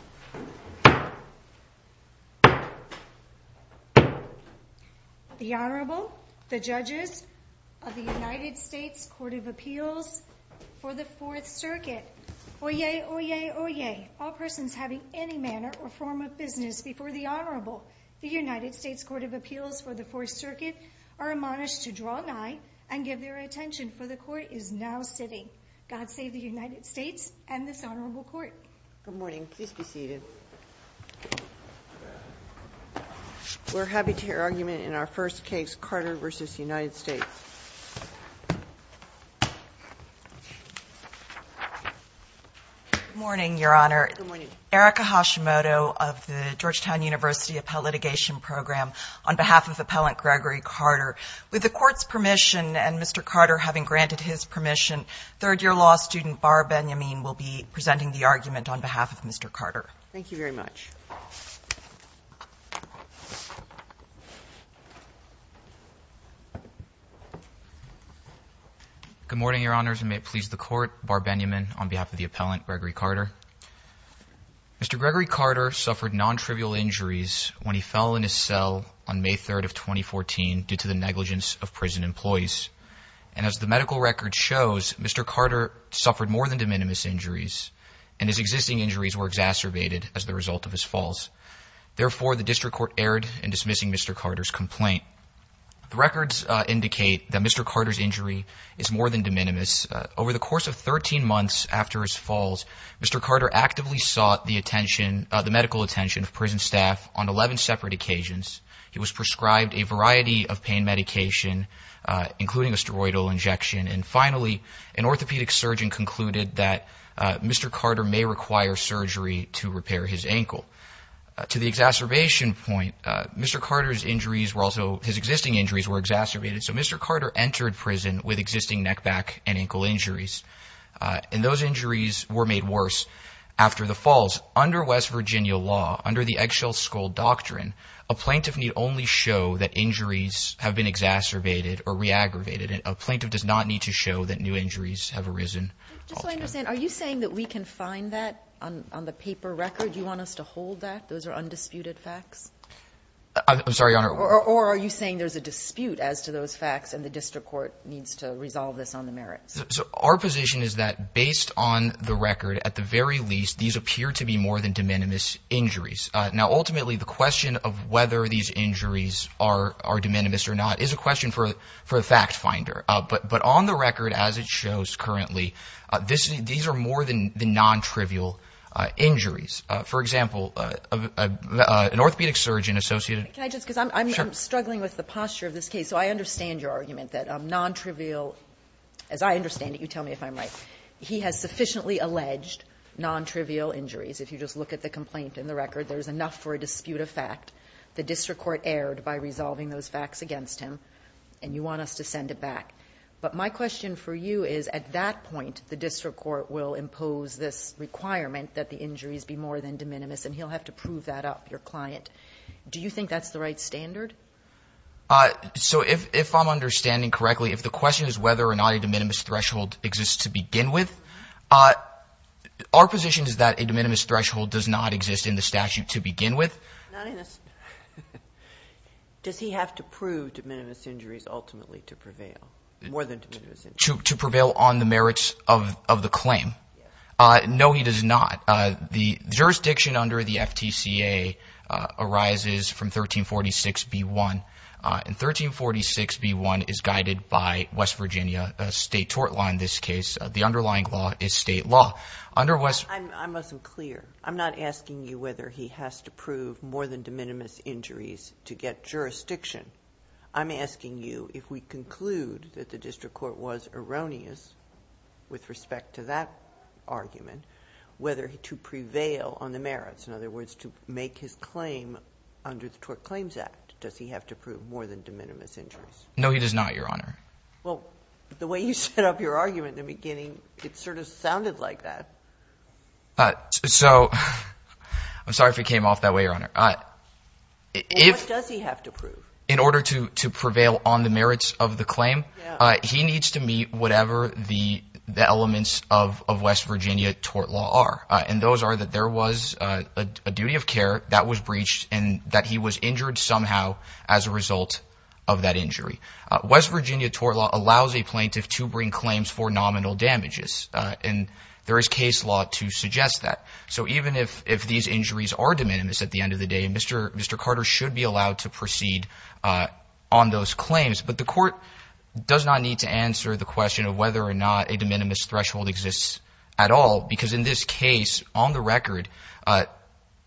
Court of Appeals for the 4th Circuit Oyez! Oyez! Oyez! All persons having any manner or form of business before the Honorable United States Court of Appeals for the 4th Circuit are admonished to draw nigh and give their attention, for the Court is now sitting. God be seated. We're happy to hear argument in our first case, Carter v. United States. Good morning, Your Honor. Good morning. Erica Hashimoto of the Georgetown University Appellate Litigation Program, on behalf of Appellant Gregory Carter. With the Court's permission and Mr. Carter having granted his permission, third-year law student Bar Benyamin will be presenting the argument on behalf of Mr. Carter. Thank you very much. Good morning, Your Honors, and may it please the Court, Bar Benyamin on behalf of the Appellant Gregory Carter. Mr. Gregory Carter suffered non-trivial injuries when he fell in his cell on May 3rd of 2014 due to the negligence of prison employees. And as the medical record shows, Mr. Carter suffered more than de minimis injuries, and his existing injuries were exacerbated as the result of his falls. Therefore, the District Court erred in dismissing Mr. Carter's complaint. The records indicate that Mr. Carter's injury is more than de minimis. Over the course of 13 months after his falls, Mr. Carter actively sought the medical attention of prison staff on 11 separate occasions. He was prescribed a variety of pain medication, including a Finally, an orthopedic surgeon concluded that Mr. Carter may require surgery to repair his ankle. To the exacerbation point, Mr. Carter's injuries were also, his existing injuries were exacerbated, so Mr. Carter entered prison with existing neck-back and ankle injuries. And those injuries were made worse after the falls. Under West Virginia law, under the eggshell skull doctrine, a plaintiff need only show that injuries have been exacerbated or re-aggravated. A plaintiff does not need to show that new injuries have arisen. Just so I understand, are you saying that we can find that on the paper record? You want us to hold that? Those are undisputed facts? I'm sorry, Your Honor. Or are you saying there's a dispute as to those facts, and the District Court needs to resolve this on the merits? Our position is that, based on the record, at the very least, these appear to be more than de minimis injuries. Now, ultimately, the question of whether these injuries are de minimis or not is a question for the fact finder. But on the record, as it shows currently, these are more than the non-trivial injuries. For example, an orthopedic surgeon associated – Can I just – because I'm struggling with the posture of this case. So I understand your argument that non-trivial – as I understand it, you tell me if I'm right. He has sufficiently alleged non-trivial injuries. If you just look at the complaint in the record, there's enough for a dispute of fact. The District Court erred by resolving those facts against him, and you want us to send it back. But my question for you is, at that point, the District Court will impose this requirement that the injuries be more than de minimis, and he'll have to prove that up, your client. Do you think that's the right standard? So if I'm understanding correctly, if the question is whether or not a de minimis threshold exists to begin with, our position is that a de minimis threshold does not exist in the case to begin with. Not in the – does he have to prove de minimis injuries ultimately to prevail, more than de minimis injuries? To prevail on the merits of the claim? Yes. No, he does not. The jurisdiction under the FTCA arises from 1346b1, and 1346b1 is guided by West Virginia state tort law in this case. The underlying law is state law. Under West – I must be clear. I'm not asking you whether he has to prove more than de minimis injuries to get jurisdiction. I'm asking you if we conclude that the District Court was erroneous with respect to that argument, whether to prevail on the merits, in other words, to make his claim under the Tort Claims Act, does he have to prove more than de minimis injuries? No, he does not, Your Honor. Well, the way you set up your argument in the beginning, it sort of sounded like that. So, I'm sorry if it came off that way, Your Honor. What does he have to prove? In order to prevail on the merits of the claim, he needs to meet whatever the elements of West Virginia tort law are, and those are that there was a duty of care that was breached and that he was injured somehow as a result of that injury. West Virginia tort law allows a plaintiff to bring claims for nominal damages, and there is case law to suggest that. So, even if these injuries are de minimis at the end of the day, Mr. Carter should be allowed to proceed on those claims. But the court does not need to answer the question of whether or not a de minimis threshold exists at all, because in this case, on the record,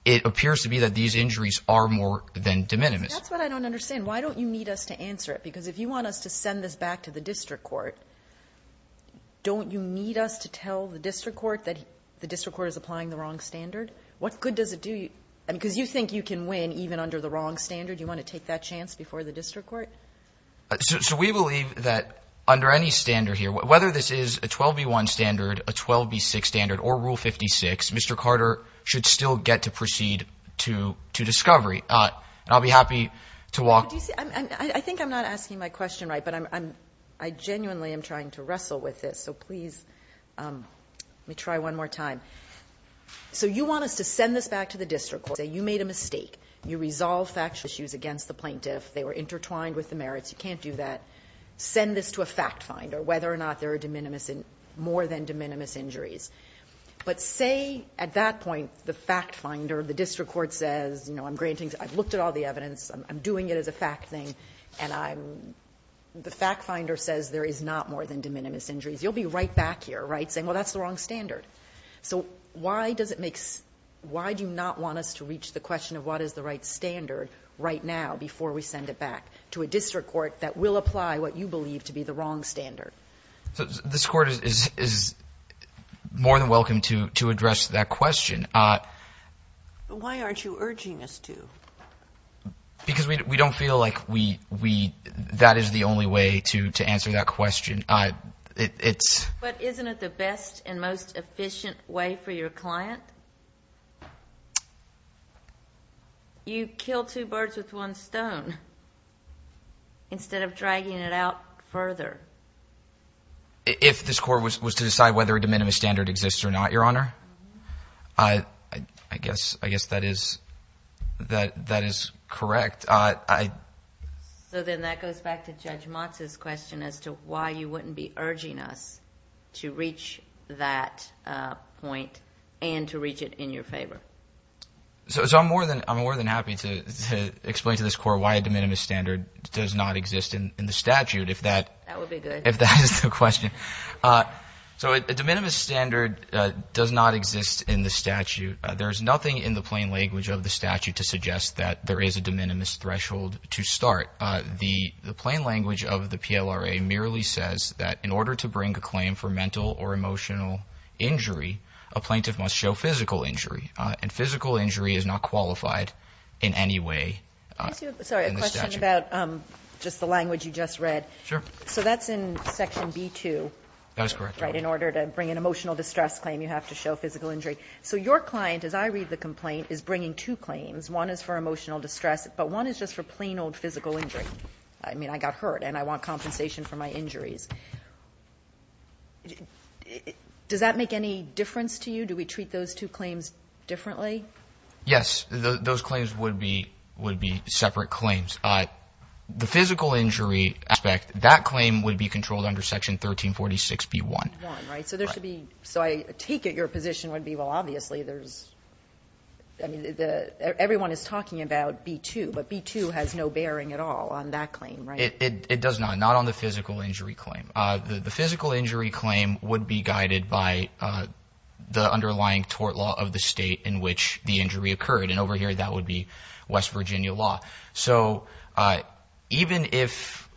it appears to be that these injuries are more than de minimis. That's what I don't understand. Why don't you need us to answer it? Because if you want us to send this back to the district court, don't you need us to tell the district court that the district court is applying the wrong standard? What good does it do you? Because you think you can win even under the wrong standard. You want to take that chance before the district court? We believe that under any standard here, whether this is a 12B1 standard, a 12B6 standard, or Rule 56, Mr. Carter should still get to proceed to discovery. And I'll be happy to walk... Do you see, I think I'm not asking my question right, but I genuinely am trying to wrestle with this, so please, let me try one more time. So you want us to send this back to the district court, say you made a mistake, you resolved factual issues against the plaintiff, they were intertwined with the merits, you can't do that, send this to a fact finder, whether or not there are more than de minimis injuries. But say at that point the fact finder, the district court says, I've looked at all the evidence, I'm doing it as a fact thing, and the fact finder says there is not more than de minimis injuries, you'll be right back here saying, well that's the wrong standard. So why do you not want us to reach the question of what is the right standard right now before we send it back to a district court that will apply what you believe to be the wrong standard? This court is more than welcome to address that question. Why aren't you urging us to? Because we don't feel like we, that is the only way to answer that question. But isn't it the best and most efficient way for your client? You kill two birds with one stone, instead of dragging it out further. If this court was to decide whether a de minimis standard exists or not, Your Honor? I guess that is correct. So then that goes back to Judge Motz's question as to why you wouldn't be urging us to reach that point and to reach it in your favor. So I'm more than happy to explain to this court why a de minimis standard does not exist in the statute if that is the question. So a de minimis standard does not exist in the statute. There is nothing in the plain language of the statute to suggest that there is a de minimis threshold to start. The plain language of the PLRA merely says that in order to bring a claim for mental or emotional injury, a plaintiff must show physical injury. And physical injury is not qualified in any way in the statute. I have a question about just the language you just read. Sure. So that's in Section B-2, right, in order to bring an emotional distress claim, you have to show physical injury. So your client, as I read the complaint, is bringing two claims. One is for emotional distress, but one is just for plain old physical injury. I mean, I got hurt and I want compensation for my injuries. Does that make any difference to you? Do we treat those two claims differently? Yes. Those claims would be separate claims. The physical injury aspect, that claim would be controlled under Section 1346B-1. Right. So there should be, so I take it your position would be, well, obviously there's, I mean, everyone is talking about B-2, but B-2 has no bearing at all on that claim, right? It does not. Not on the physical injury claim. The physical injury claim would be guided by the underlying tort law of the state in which the injury occurred. And over here, that would be West Virginia law. So even if,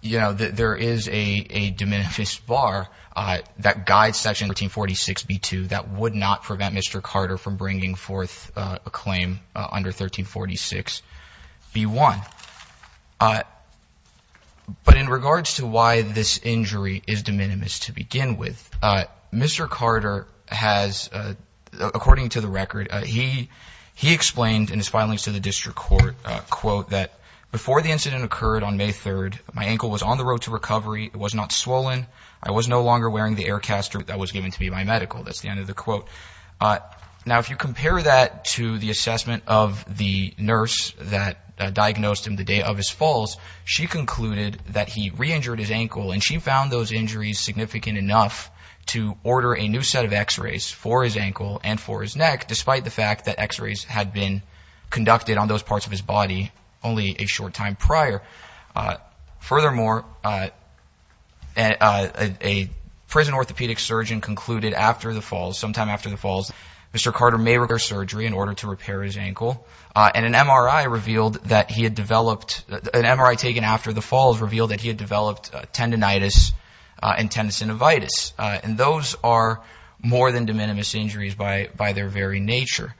you know, there is a de minimis bar that guides Section 1346B-2, that would not prevent Mr. Carter from bringing forth a claim under 1346B-1. But in regards to why this injury is de minimis to begin with, Mr. Carter has, according to the record, he explained in his filings to the district court, quote, that before the incident occurred on May 3rd, my ankle was on the road to recovery. It was not swollen. I was no longer wearing the air caster that was given to me by medical. That's the end of the quote. Now, if you compare that to the assessment of the nurse that diagnosed him the day of his falls, she concluded that he re-injured his ankle, and she found those injuries significant enough to order a new set of x-rays for his ankle and for his neck, despite the fact that x-rays had been conducted on those parts of his body only a short time prior. Furthermore, a prison orthopedic surgeon concluded after the falls, sometime after the falls, Mr. Carter may require surgery in order to repair his ankle. And an MRI revealed that he had developed – an MRI taken after the falls revealed that he had developed tendinitis and tendinocinivitis. And those are more than de minimis injuries by their very nature.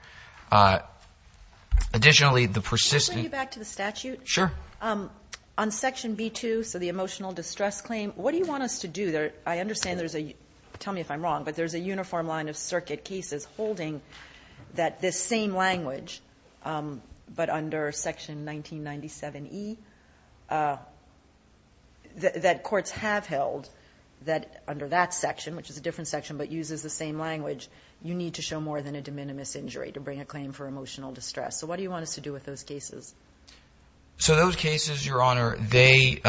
Additionally, the persistent – On section B2, so the emotional distress claim, what do you want us to do? I understand there's a – tell me if I'm wrong, but there's a uniform line of circuit cases holding that this same language, but under section 1997E, that courts have held that under that section, which is a different section but uses the same language, you need to show more than a de minimis injury to bring a claim for emotional distress. So what do you want us to do with those cases? So those cases, Your Honor, they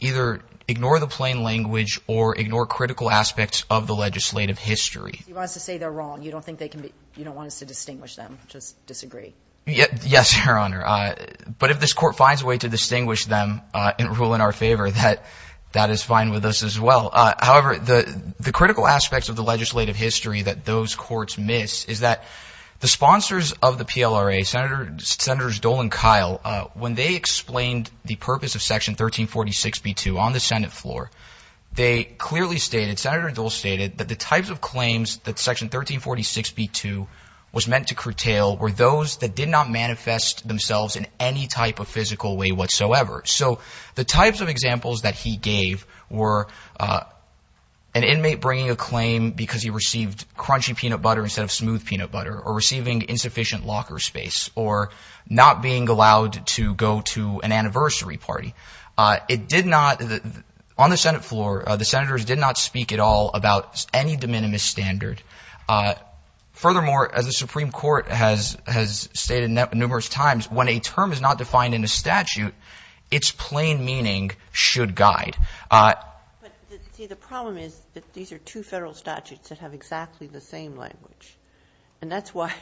either ignore the plain language or ignore critical aspects of the legislative history. You want us to say they're wrong. You don't think they can be – you don't want us to distinguish them. Just disagree. Yes, Your Honor. But if this court finds a way to distinguish them and rule in our favor, that is fine with us as well. However, the critical aspects of the legislative history that those courts miss is that the sponsors of the PLRA, Senators Dole and Kyle, when they explained the purpose of section 1346B2 on the Senate floor, they clearly stated – Senator Dole stated that the types of claims that section 1346B2 was meant to curtail were those that did not manifest themselves in any type of physical way whatsoever. So the types of examples that he gave were an inmate bringing a claim because he received crunchy peanut butter instead of smooth peanut butter or receiving insufficient locker space or not being allowed to go to an anniversary party. It did not – on the Senate floor, the senators did not speak at all about any de minimis standard. Furthermore, as the Supreme Court has stated numerous times, when a term is not defined in a statute, its plain meaning should guide. But see, the problem is that these are two federal statutes that have exactly the same language, and that's why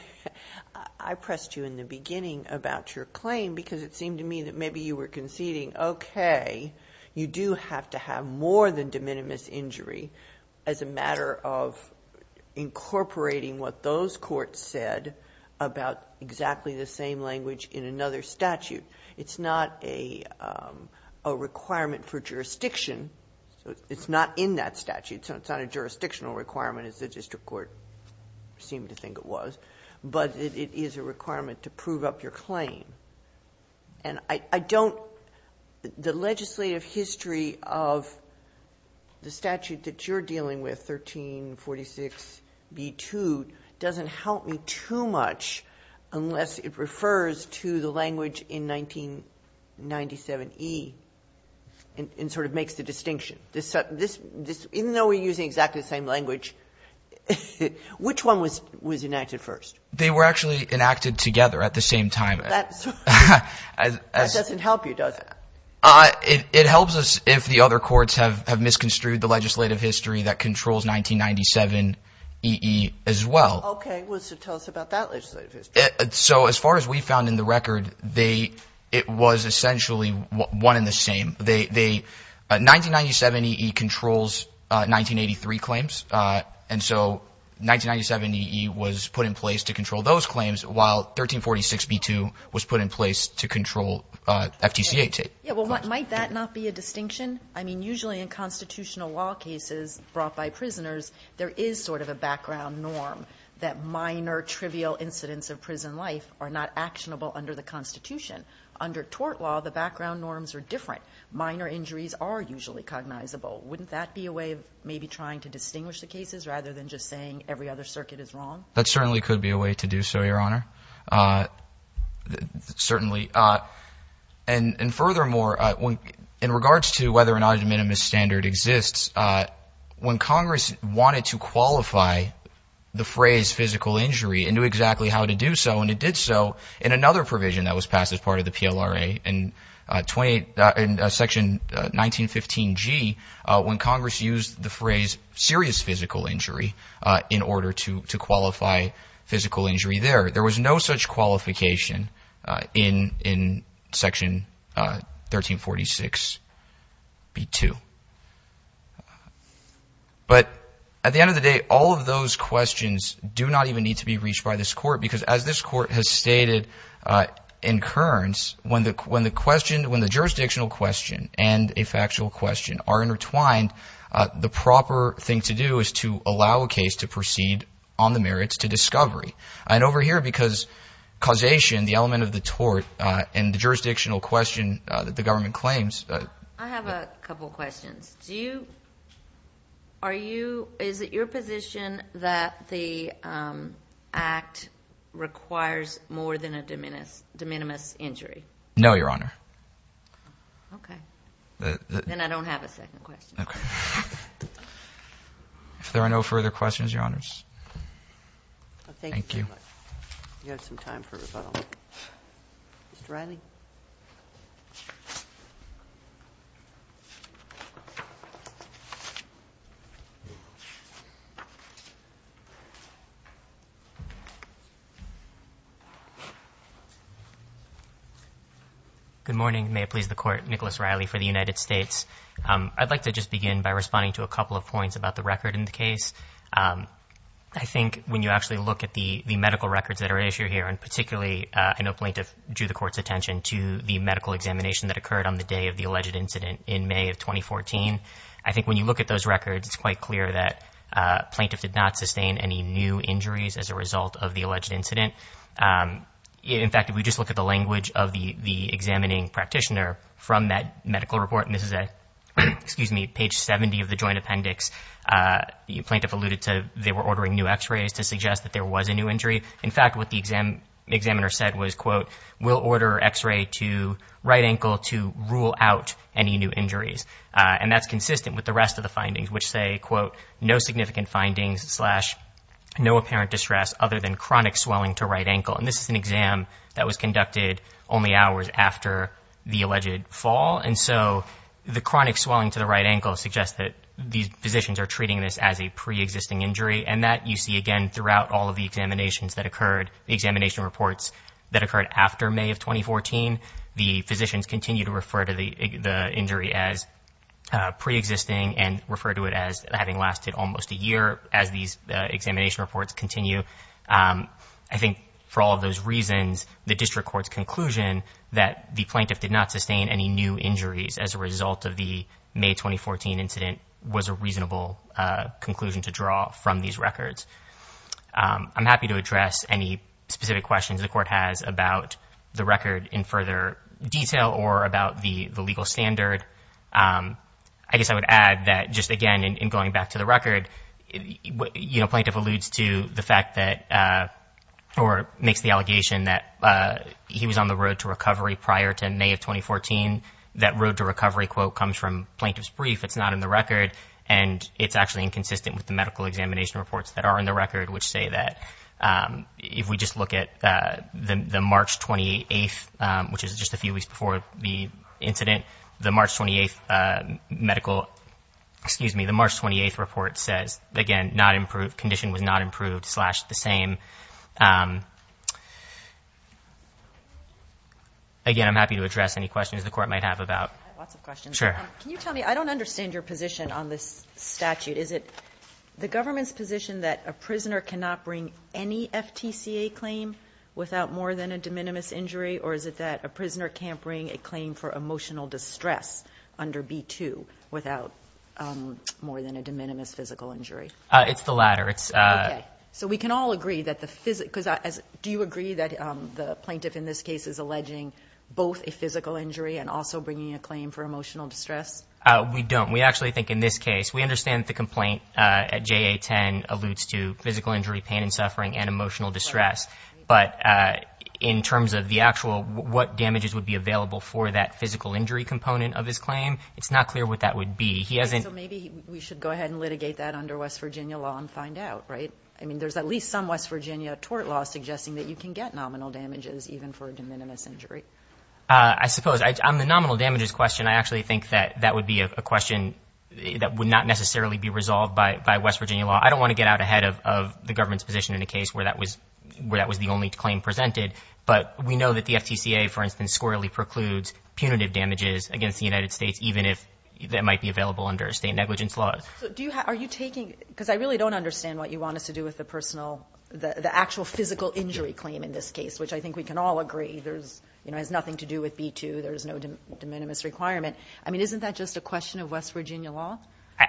I pressed you in the beginning about your claim because it seemed to me that maybe you were conceding, okay, you do have to have more than de minimis injury as a matter of incorporating what those courts said about exactly the same language in another statute. It's not a requirement for jurisdiction. It's not in that statute, so it's not a jurisdictional requirement as the district court seemed to think it was, but it is a requirement to prove up your claim. And I don't – the legislative history of the statute that you're dealing with, 1346b2, doesn't help me too much unless it refers to the language in 1997e and sort of makes the distinction. This – even though we're using exactly the same language, which one was enacted first? They were actually enacted together at the same time. That doesn't help you, does it? It helps us if the other courts have misconstrued the legislative history that controls 1997e as well. Okay. Well, so tell us about that legislative history. So as far as we found in the record, they – it was essentially one and the same. 1997eE controls 1983 claims, and so 1997eE was put in place to control those claims, while 1346b2 was put in place to control FTC-8. Yeah, well, might that not be a distinction? I mean, usually in constitutional law cases brought by prisoners, there is sort of a background norm that minor trivial incidents of prison life are not actionable under the Constitution. Under tort law, the background norms are different. Minor injuries are usually cognizable. Wouldn't that be a way of maybe trying to distinguish the cases rather than just saying every other circuit is wrong? That certainly could be a way to do so, Your Honor, certainly. And furthermore, in regards to whether or not a de minimis standard exists, when Congress wanted to qualify the phrase physical injury and knew exactly how to do so, and it did so in another provision that was passed as part of the PLRA in Section 1915g, when Congress used the phrase serious physical injury in order to qualify physical injury there, there was no such qualification in Section 1346b2. But at the end of the day, all of those questions do not even need to be reached by this Court because, as this Court has stated in Kearns, when the jurisdictional question and a factual question are intertwined, the proper thing to do is to allow a case to proceed on the merits to discovery. And over here, because causation, the element of the tort, and the jurisdictional question that the government claims. I have a couple questions. First, is it your position that the Act requires more than a de minimis injury? No, Your Honor. Okay. Then I don't have a second question. If there are no further questions, Your Honors. Thank you. You have some time for rebuttal. Mr. Riley? Good morning. May it please the Court. Nicholas Riley for the United States. I'd like to just begin by responding to a couple of points about the record in the case. I think when you actually look at the medical records that are at issue here, and particularly I know plaintiff drew the Court's attention to the medical examination that occurred on the day of the alleged incident in May of 2014. I think when you look at those records, it's quite clear that plaintiff did not sustain any new injuries as a result of the alleged incident. In fact, if we just look at the language of the examining practitioner from that medical report, and this is page 70 of the joint appendix, plaintiff alluded to they were ordering new x-rays to suggest that there was a new injury. In fact, what the examiner said was, quote, we'll order x-ray to right ankle to rule out any new injuries. And that's consistent with the rest of the findings, which say, quote, no significant findings slash no apparent distress other than chronic swelling to right ankle. And this is an exam that was conducted only hours after the alleged fall. And so the chronic swelling to the right ankle suggests that these physicians are treating this as a preexisting injury. And that you see again throughout all of the examinations that occurred, the examination reports that occurred after May of 2014. The physicians continue to refer to the injury as preexisting and refer to it as having lasted almost a year. As these examination reports continue, I think for all of those reasons, the district court's conclusion that the plaintiff did not sustain any new injuries as a result of the May 2014 incident was a reasonable conclusion to draw from these records. I'm happy to address any specific questions the court has about the record in further detail or about the legal standard. I guess I would add that just, again, in going back to the record, you know, plaintiff alludes to the fact that or makes the allegation that he was on the road to recovery prior to May of 2014. That road to recovery quote comes from plaintiff's brief. It's not in the record. And it's actually inconsistent with the medical examination reports that are in the record, which say that if we just look at the March 28th, which is just a few weeks before the incident, the March 28th medical. Excuse me. The March 28th report says, again, not improved. Condition was not improved. Slash the same. Again, I'm happy to address any questions the court might have about. Sure. Can you tell me? I don't understand your position on this statute. Is it the government's position that a prisoner cannot bring any FTCA claim without more than a de minimis injury? Or is it that a prisoner can't bring a claim for emotional distress under B2 without more than a de minimis physical injury? It's the latter. It's. So we can all agree that the physics. Do you agree that the plaintiff in this case is alleging both a physical injury and also bringing a claim for emotional distress? We don't. We actually think in this case we understand the complaint at 10 alludes to physical injury, pain and suffering and emotional distress. But in terms of the actual what damages would be available for that physical injury component of his claim, it's not clear what that would be. He hasn't. Maybe we should go ahead and litigate that under West Virginia law and find out. Right. I mean, there's at least some West Virginia tort law suggesting that you can get nominal damages even for a de minimis injury. I suppose I'm the nominal damages question. I actually think that that would be a question that would not necessarily be resolved by West Virginia law. I don't want to get out ahead of the government's position in a case where that was where that was the only claim presented. But we know that the FTCA, for instance, squarely precludes punitive damages against the United States, even if that might be available under state negligence laws. Do you are you taking because I really don't understand what you want us to do with the personal the actual physical injury claim in this case, which I think we can all agree. There's nothing to do with B2. There is no de minimis requirement. I mean, isn't that just a question of West Virginia law?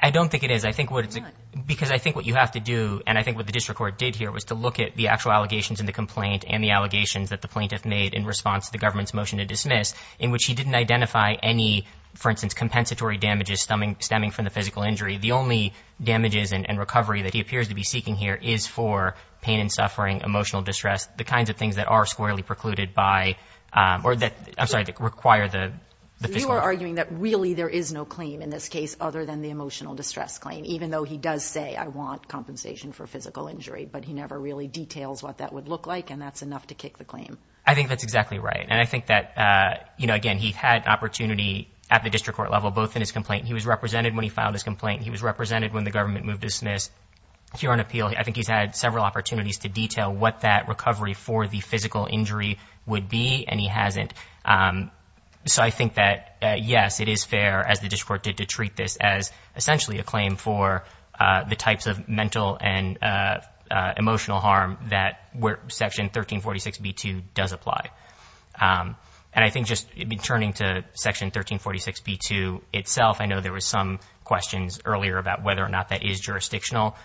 I don't think it is. I think what it's because I think what you have to do and I think what the district court did here was to look at the actual allegations in the complaint and the allegations that the plaintiff made in response to the government's motion to dismiss in which he didn't identify any, for instance, compensatory damages stemming stemming from the physical injury. The only damages and recovery that he appears to be seeking here is for pain and suffering, emotional distress, the kinds of things that are squarely precluded by or that I'm sorry, require the. You are arguing that really there is no claim in this case other than the emotional distress claim, even though he does say I want compensation for physical injury, but he never really details what that would look like and that's enough to kick the claim. I think that's exactly right. And I think that, you know, again, he had opportunity at the district court level, both in his complaint. He was represented when he filed his complaint. He was represented when the government moved to dismiss here on appeal. I think he's had several opportunities to detail what that recovery for the physical injury would be, and he hasn't. So I think that, yes, it is fair, as the district court did, to treat this as essentially a claim for the types of mental and emotional harm that Section 1346b-2 does apply. And I think just turning to Section 1346b-2 itself, I know there were some questions earlier about whether or not that is jurisdictional.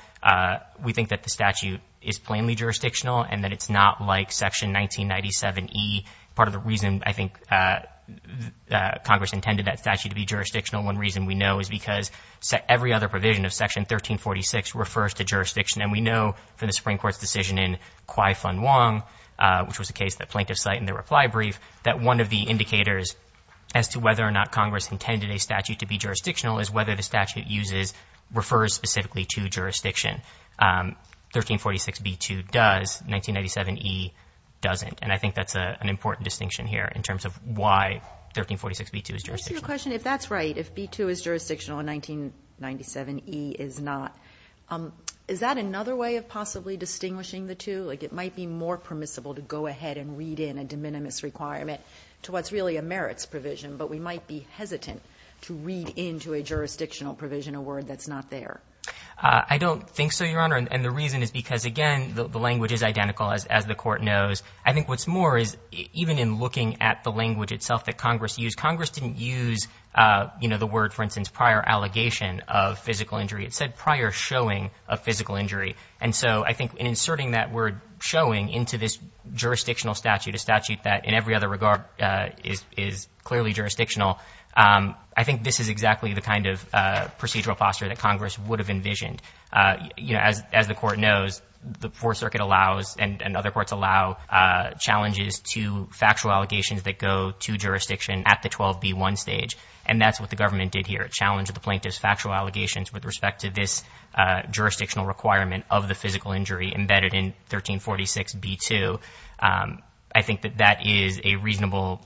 We think that the statute is plainly jurisdictional and that it's not like Section 1997e. Part of the reason I think Congress intended that statute to be jurisdictional, one reason we know is because every other provision of Section 1346 refers to jurisdiction. And we know from the Supreme Court's decision in Kwai Fun Wong, which was the case that plaintiffs cite in their reply brief, that one of the indicators as to whether or not Congress intended a statute to be jurisdictional is whether the statute refers specifically to jurisdiction. 1346b-2 does, 1997e doesn't. And I think that's an important distinction here in terms of why 1346b-2 is jurisdictional. If that's right, if b-2 is jurisdictional and 1997e is not, is that another way of possibly distinguishing the two? Like it might be more permissible to go ahead and read in a de minimis requirement to what's really a merits provision, but we might be hesitant to read into a jurisdictional provision a word that's not there. I don't think so, Your Honor. And the reason is because, again, the language is identical, as the Court knows. I think what's more is even in looking at the language itself that Congress used, Congress didn't use, you know, the word, for instance, prior allegation of physical injury. It said prior showing of physical injury. And so I think in inserting that word showing into this jurisdictional statute, a statute that in every other regard is clearly jurisdictional, I think this is exactly the kind of procedural posture that Congress would have envisioned. You know, as the Court knows, the Fourth Circuit allows and other courts allow challenges to factual allegations that go to jurisdiction at the 12b-1 stage. And that's what the government did here. It challenged the plaintiff's factual allegations with respect to this jurisdictional requirement of the physical injury embedded in 1346b-2. I think that that is a reasonable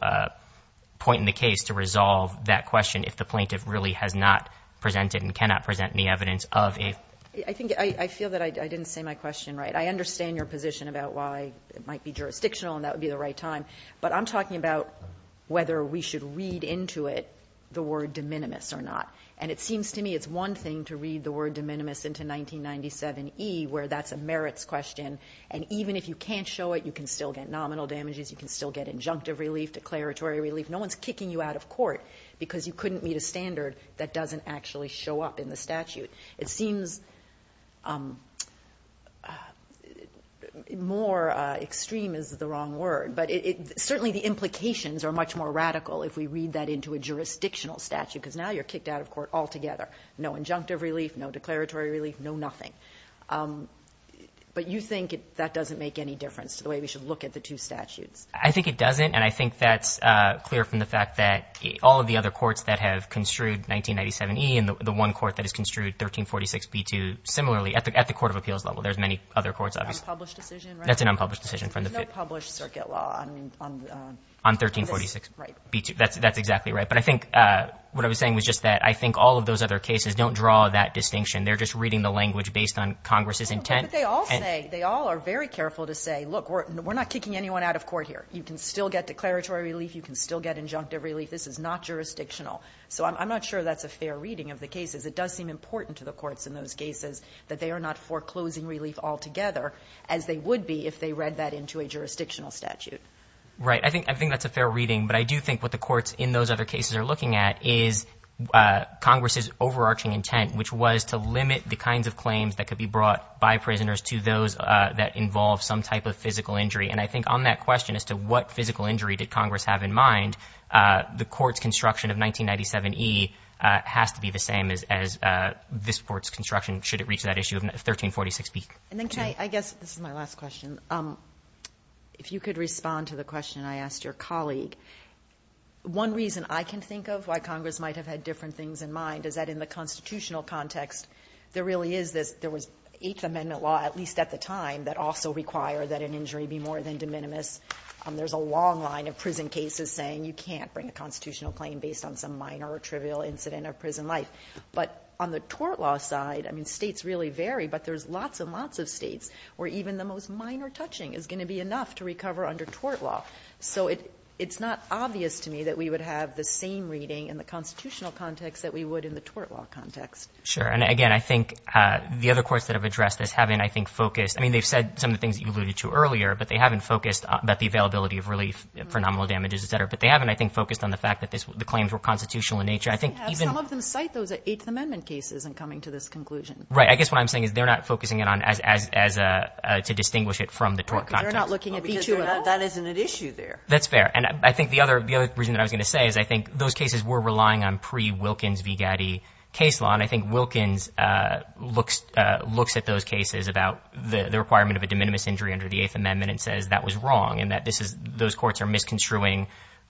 point in the case to resolve that question if the plaintiff really has not presented and cannot present any evidence of a ---- I think I feel that I didn't say my question right. I understand your position about why it might be jurisdictional and that would be the right time. But I'm talking about whether we should read into it the word de minimis or not. And it seems to me it's one thing to read the word de minimis into 1997e where that's a merits question. And even if you can't show it, you can still get nominal damages, you can still get injunctive relief, declaratory relief. No one is kicking you out of court because you couldn't meet a standard that doesn't actually show up in the statute. It seems more extreme is the wrong word. But certainly the implications are much more radical if we read that into a jurisdictional statute because now you're kicked out of court altogether. No injunctive relief, no declaratory relief, no nothing. But you think that doesn't make any difference to the way we should look at the two statutes. I think it doesn't. And I think that's clear from the fact that all of the other courts that have construed 1997e and the one court that has construed 1346b2 similarly at the court of appeals level. There's many other courts. That's an unpublished decision. There's no published circuit law. On 1346b2. That's exactly right. But I think what I was saying was just that I think all of those other cases don't draw that distinction. They're just reading the language based on Congress's intent. But they all say, they all are very careful to say, look, we're not kicking anyone out of court here. You can still get declaratory relief. You can still get injunctive relief. This is not jurisdictional. So I'm not sure that's a fair reading of the cases. It does seem important to the courts in those cases that they are not foreclosing relief altogether, as they would be if they read that into a jurisdictional statute. Right. I think that's a fair reading. But I do think what the courts in those other cases are looking at is Congress's overarching intent, which was to limit the kinds of claims that could be brought by prisoners to those that involve some type of physical injury. And I think on that question as to what physical injury did Congress have in mind, the court's construction of 1997e has to be the same as this court's construction, should it reach that issue of 1346b2. I guess this is my last question. If you could respond to the question I asked your colleague. One reason I can think of why Congress might have had different things in mind is that in the constitutional context, there really is this, there was Eighth Amendment law, at least at the time, that also required that an injury be more than de minimis. There's a long line of prison cases saying you can't bring a constitutional claim based on some minor or trivial incident of prison life. But on the tort law side, I mean, states really vary, but there's lots and lots of states where even the most minor touching is going to be enough to recover under tort law. So it's not obvious to me that we would have the same reading in the constitutional context that we would in the tort law context. Sure. And again, I think the other courts that have addressed this haven't, I think, focused. I mean, they've said some of the things that you alluded to earlier, but they haven't focused about the availability of relief for nominal damages, et cetera. But they haven't, I think, focused on the fact that the claims were constitutional in nature. Some of them cite those Eighth Amendment cases in coming to this conclusion. Right. I guess what I'm saying is they're not focusing it on as to distinguish it from the tort context. Well, because that isn't an issue there. That's fair. And I think the other reason that I was going to say is I think those cases were relying on pre-Wilkins v. Gaddy case law. And I think Wilkins looks at those cases about the requirement of a de minimis injury under the Eighth Amendment and says that was wrong and that those courts are misconstruing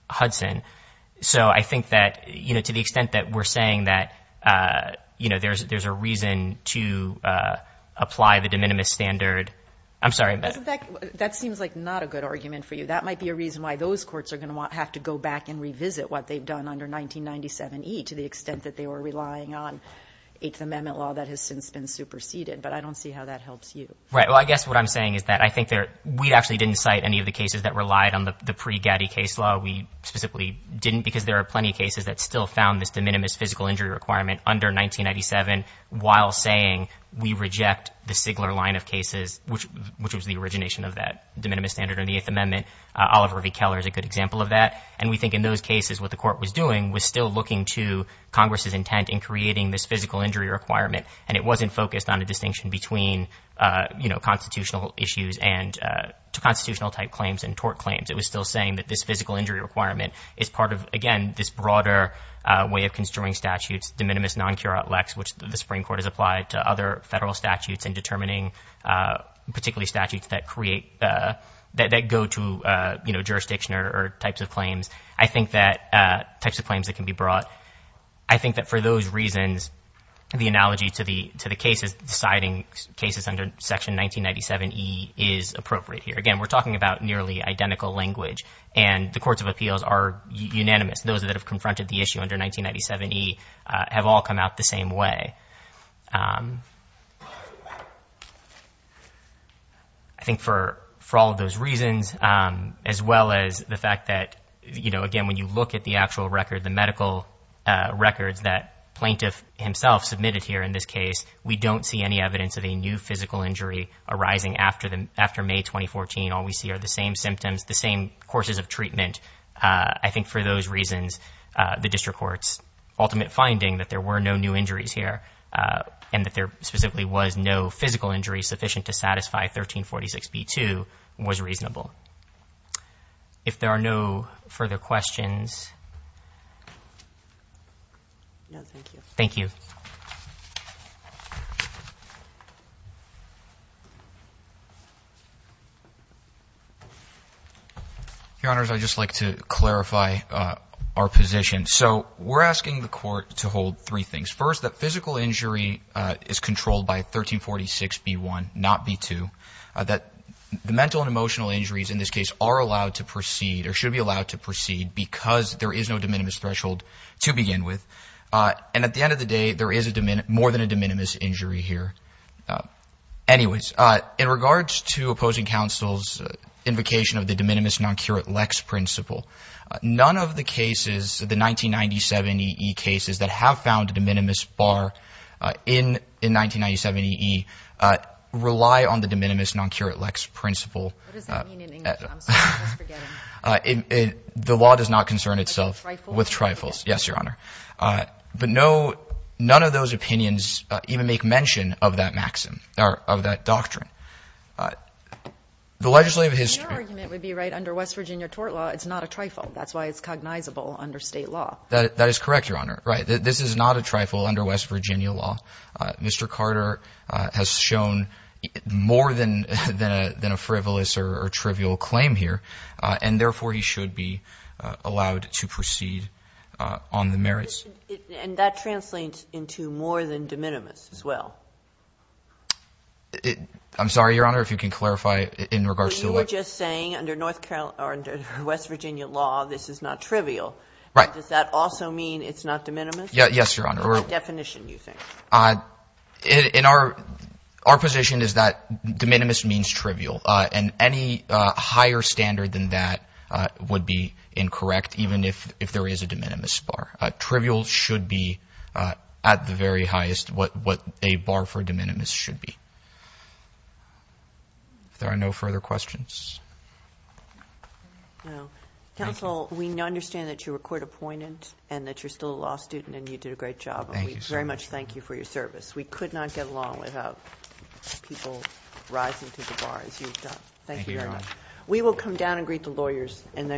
Hudson. So I think that to the extent that we're saying that there's a reason to apply the de minimis standard. I'm sorry. That seems like not a good argument for you. That might be a reason why those courts are going to have to go back and revisit what they've done under 1997E to the extent that they were relying on Eighth Amendment law that has since been superseded. But I don't see how that helps you. Right. Well, I guess what I'm saying is that I think we actually didn't cite any of the cases that relied on the pre-Gaddy case law. We specifically didn't because there are plenty of cases that still found this de minimis physical injury requirement under 1997 while saying we reject the Sigler line of cases, which was the origination of that de minimis standard in the Eighth Amendment. Oliver V. Keller is a good example of that. And we think in those cases what the court was doing was still looking to Congress's intent in creating this physical injury requirement. And it wasn't focused on a distinction between, you know, constitutional issues and constitutional type claims and tort claims. It was still saying that this physical injury requirement is part of, again, this broader way of construing statutes, de minimis non curat lex, which the Supreme Court has applied to other federal statutes in determining particularly statutes that create, that go to, you know, jurisdiction or types of claims. I think that types of claims that can be brought. I think that for those reasons, the analogy to the cases, citing cases under Section 1997E is appropriate here. Again, we're talking about nearly identical language, and the courts of appeals are unanimous. Those that have confronted the issue under 1997E have all come out the same way. I think for all of those reasons, as well as the fact that, you know, again, when you look at the actual record, the medical records that Plaintiff himself submitted here in this case, we don't see any evidence of a new physical injury arising after May 2014. All we see are the same symptoms, the same courses of treatment. I think for those reasons, the district court's ultimate finding that there were no new injuries here and that there specifically was no physical injury sufficient to satisfy 1346B2 was reasonable. If there are no further questions. No, thank you. Thank you. Your Honors, I'd just like to clarify our position. So we're asking the court to hold three things. First, that physical injury is controlled by 1346B1, not B2. That the mental and emotional injuries in this case are allowed to proceed or should be allowed to proceed because there is no de minimis threshold to begin with. And at the end of the day, there is more than a de minimis injury here. Anyways, in regards to opposing counsel's invocation of the de minimis non curate lex principle, none of the cases, the 1997EE cases that have found a de minimis bar in 1997EE rely on the de minimis non curate lex principle. What does that mean in English? The law does not concern itself with trifles. Yes, Your Honor. But none of those opinions even make mention of that maxim or of that doctrine. The legislative history. Your argument would be right. Under West Virginia tort law, it's not a trifle. That's why it's cognizable under State law. That is correct, Your Honor. Right. This is not a trifle under West Virginia law. Mr. Carter has shown more than a frivolous or trivial claim here, and therefore, he should be allowed to proceed on the merits. And that translates into more than de minimis as well. I'm sorry, Your Honor, if you can clarify in regards to the legislation. You were just saying under West Virginia law, this is not trivial. Right. Does that also mean it's not de minimis? Yes, Your Honor. What definition do you think? Our position is that de minimis means trivial. And any higher standard than that would be incorrect, even if there is a de minimis bar. Trivial should be at the very highest what a bar for de minimis should be. If there are no further questions. No. Counsel, we understand that you were court appointed and that you're still a law student and you did a great job. Thank you, sir. And we very much thank you for your service. We could not get along without people rising to the bar as you've done. Thank you very much. We will come down and greet the lawyers and then go.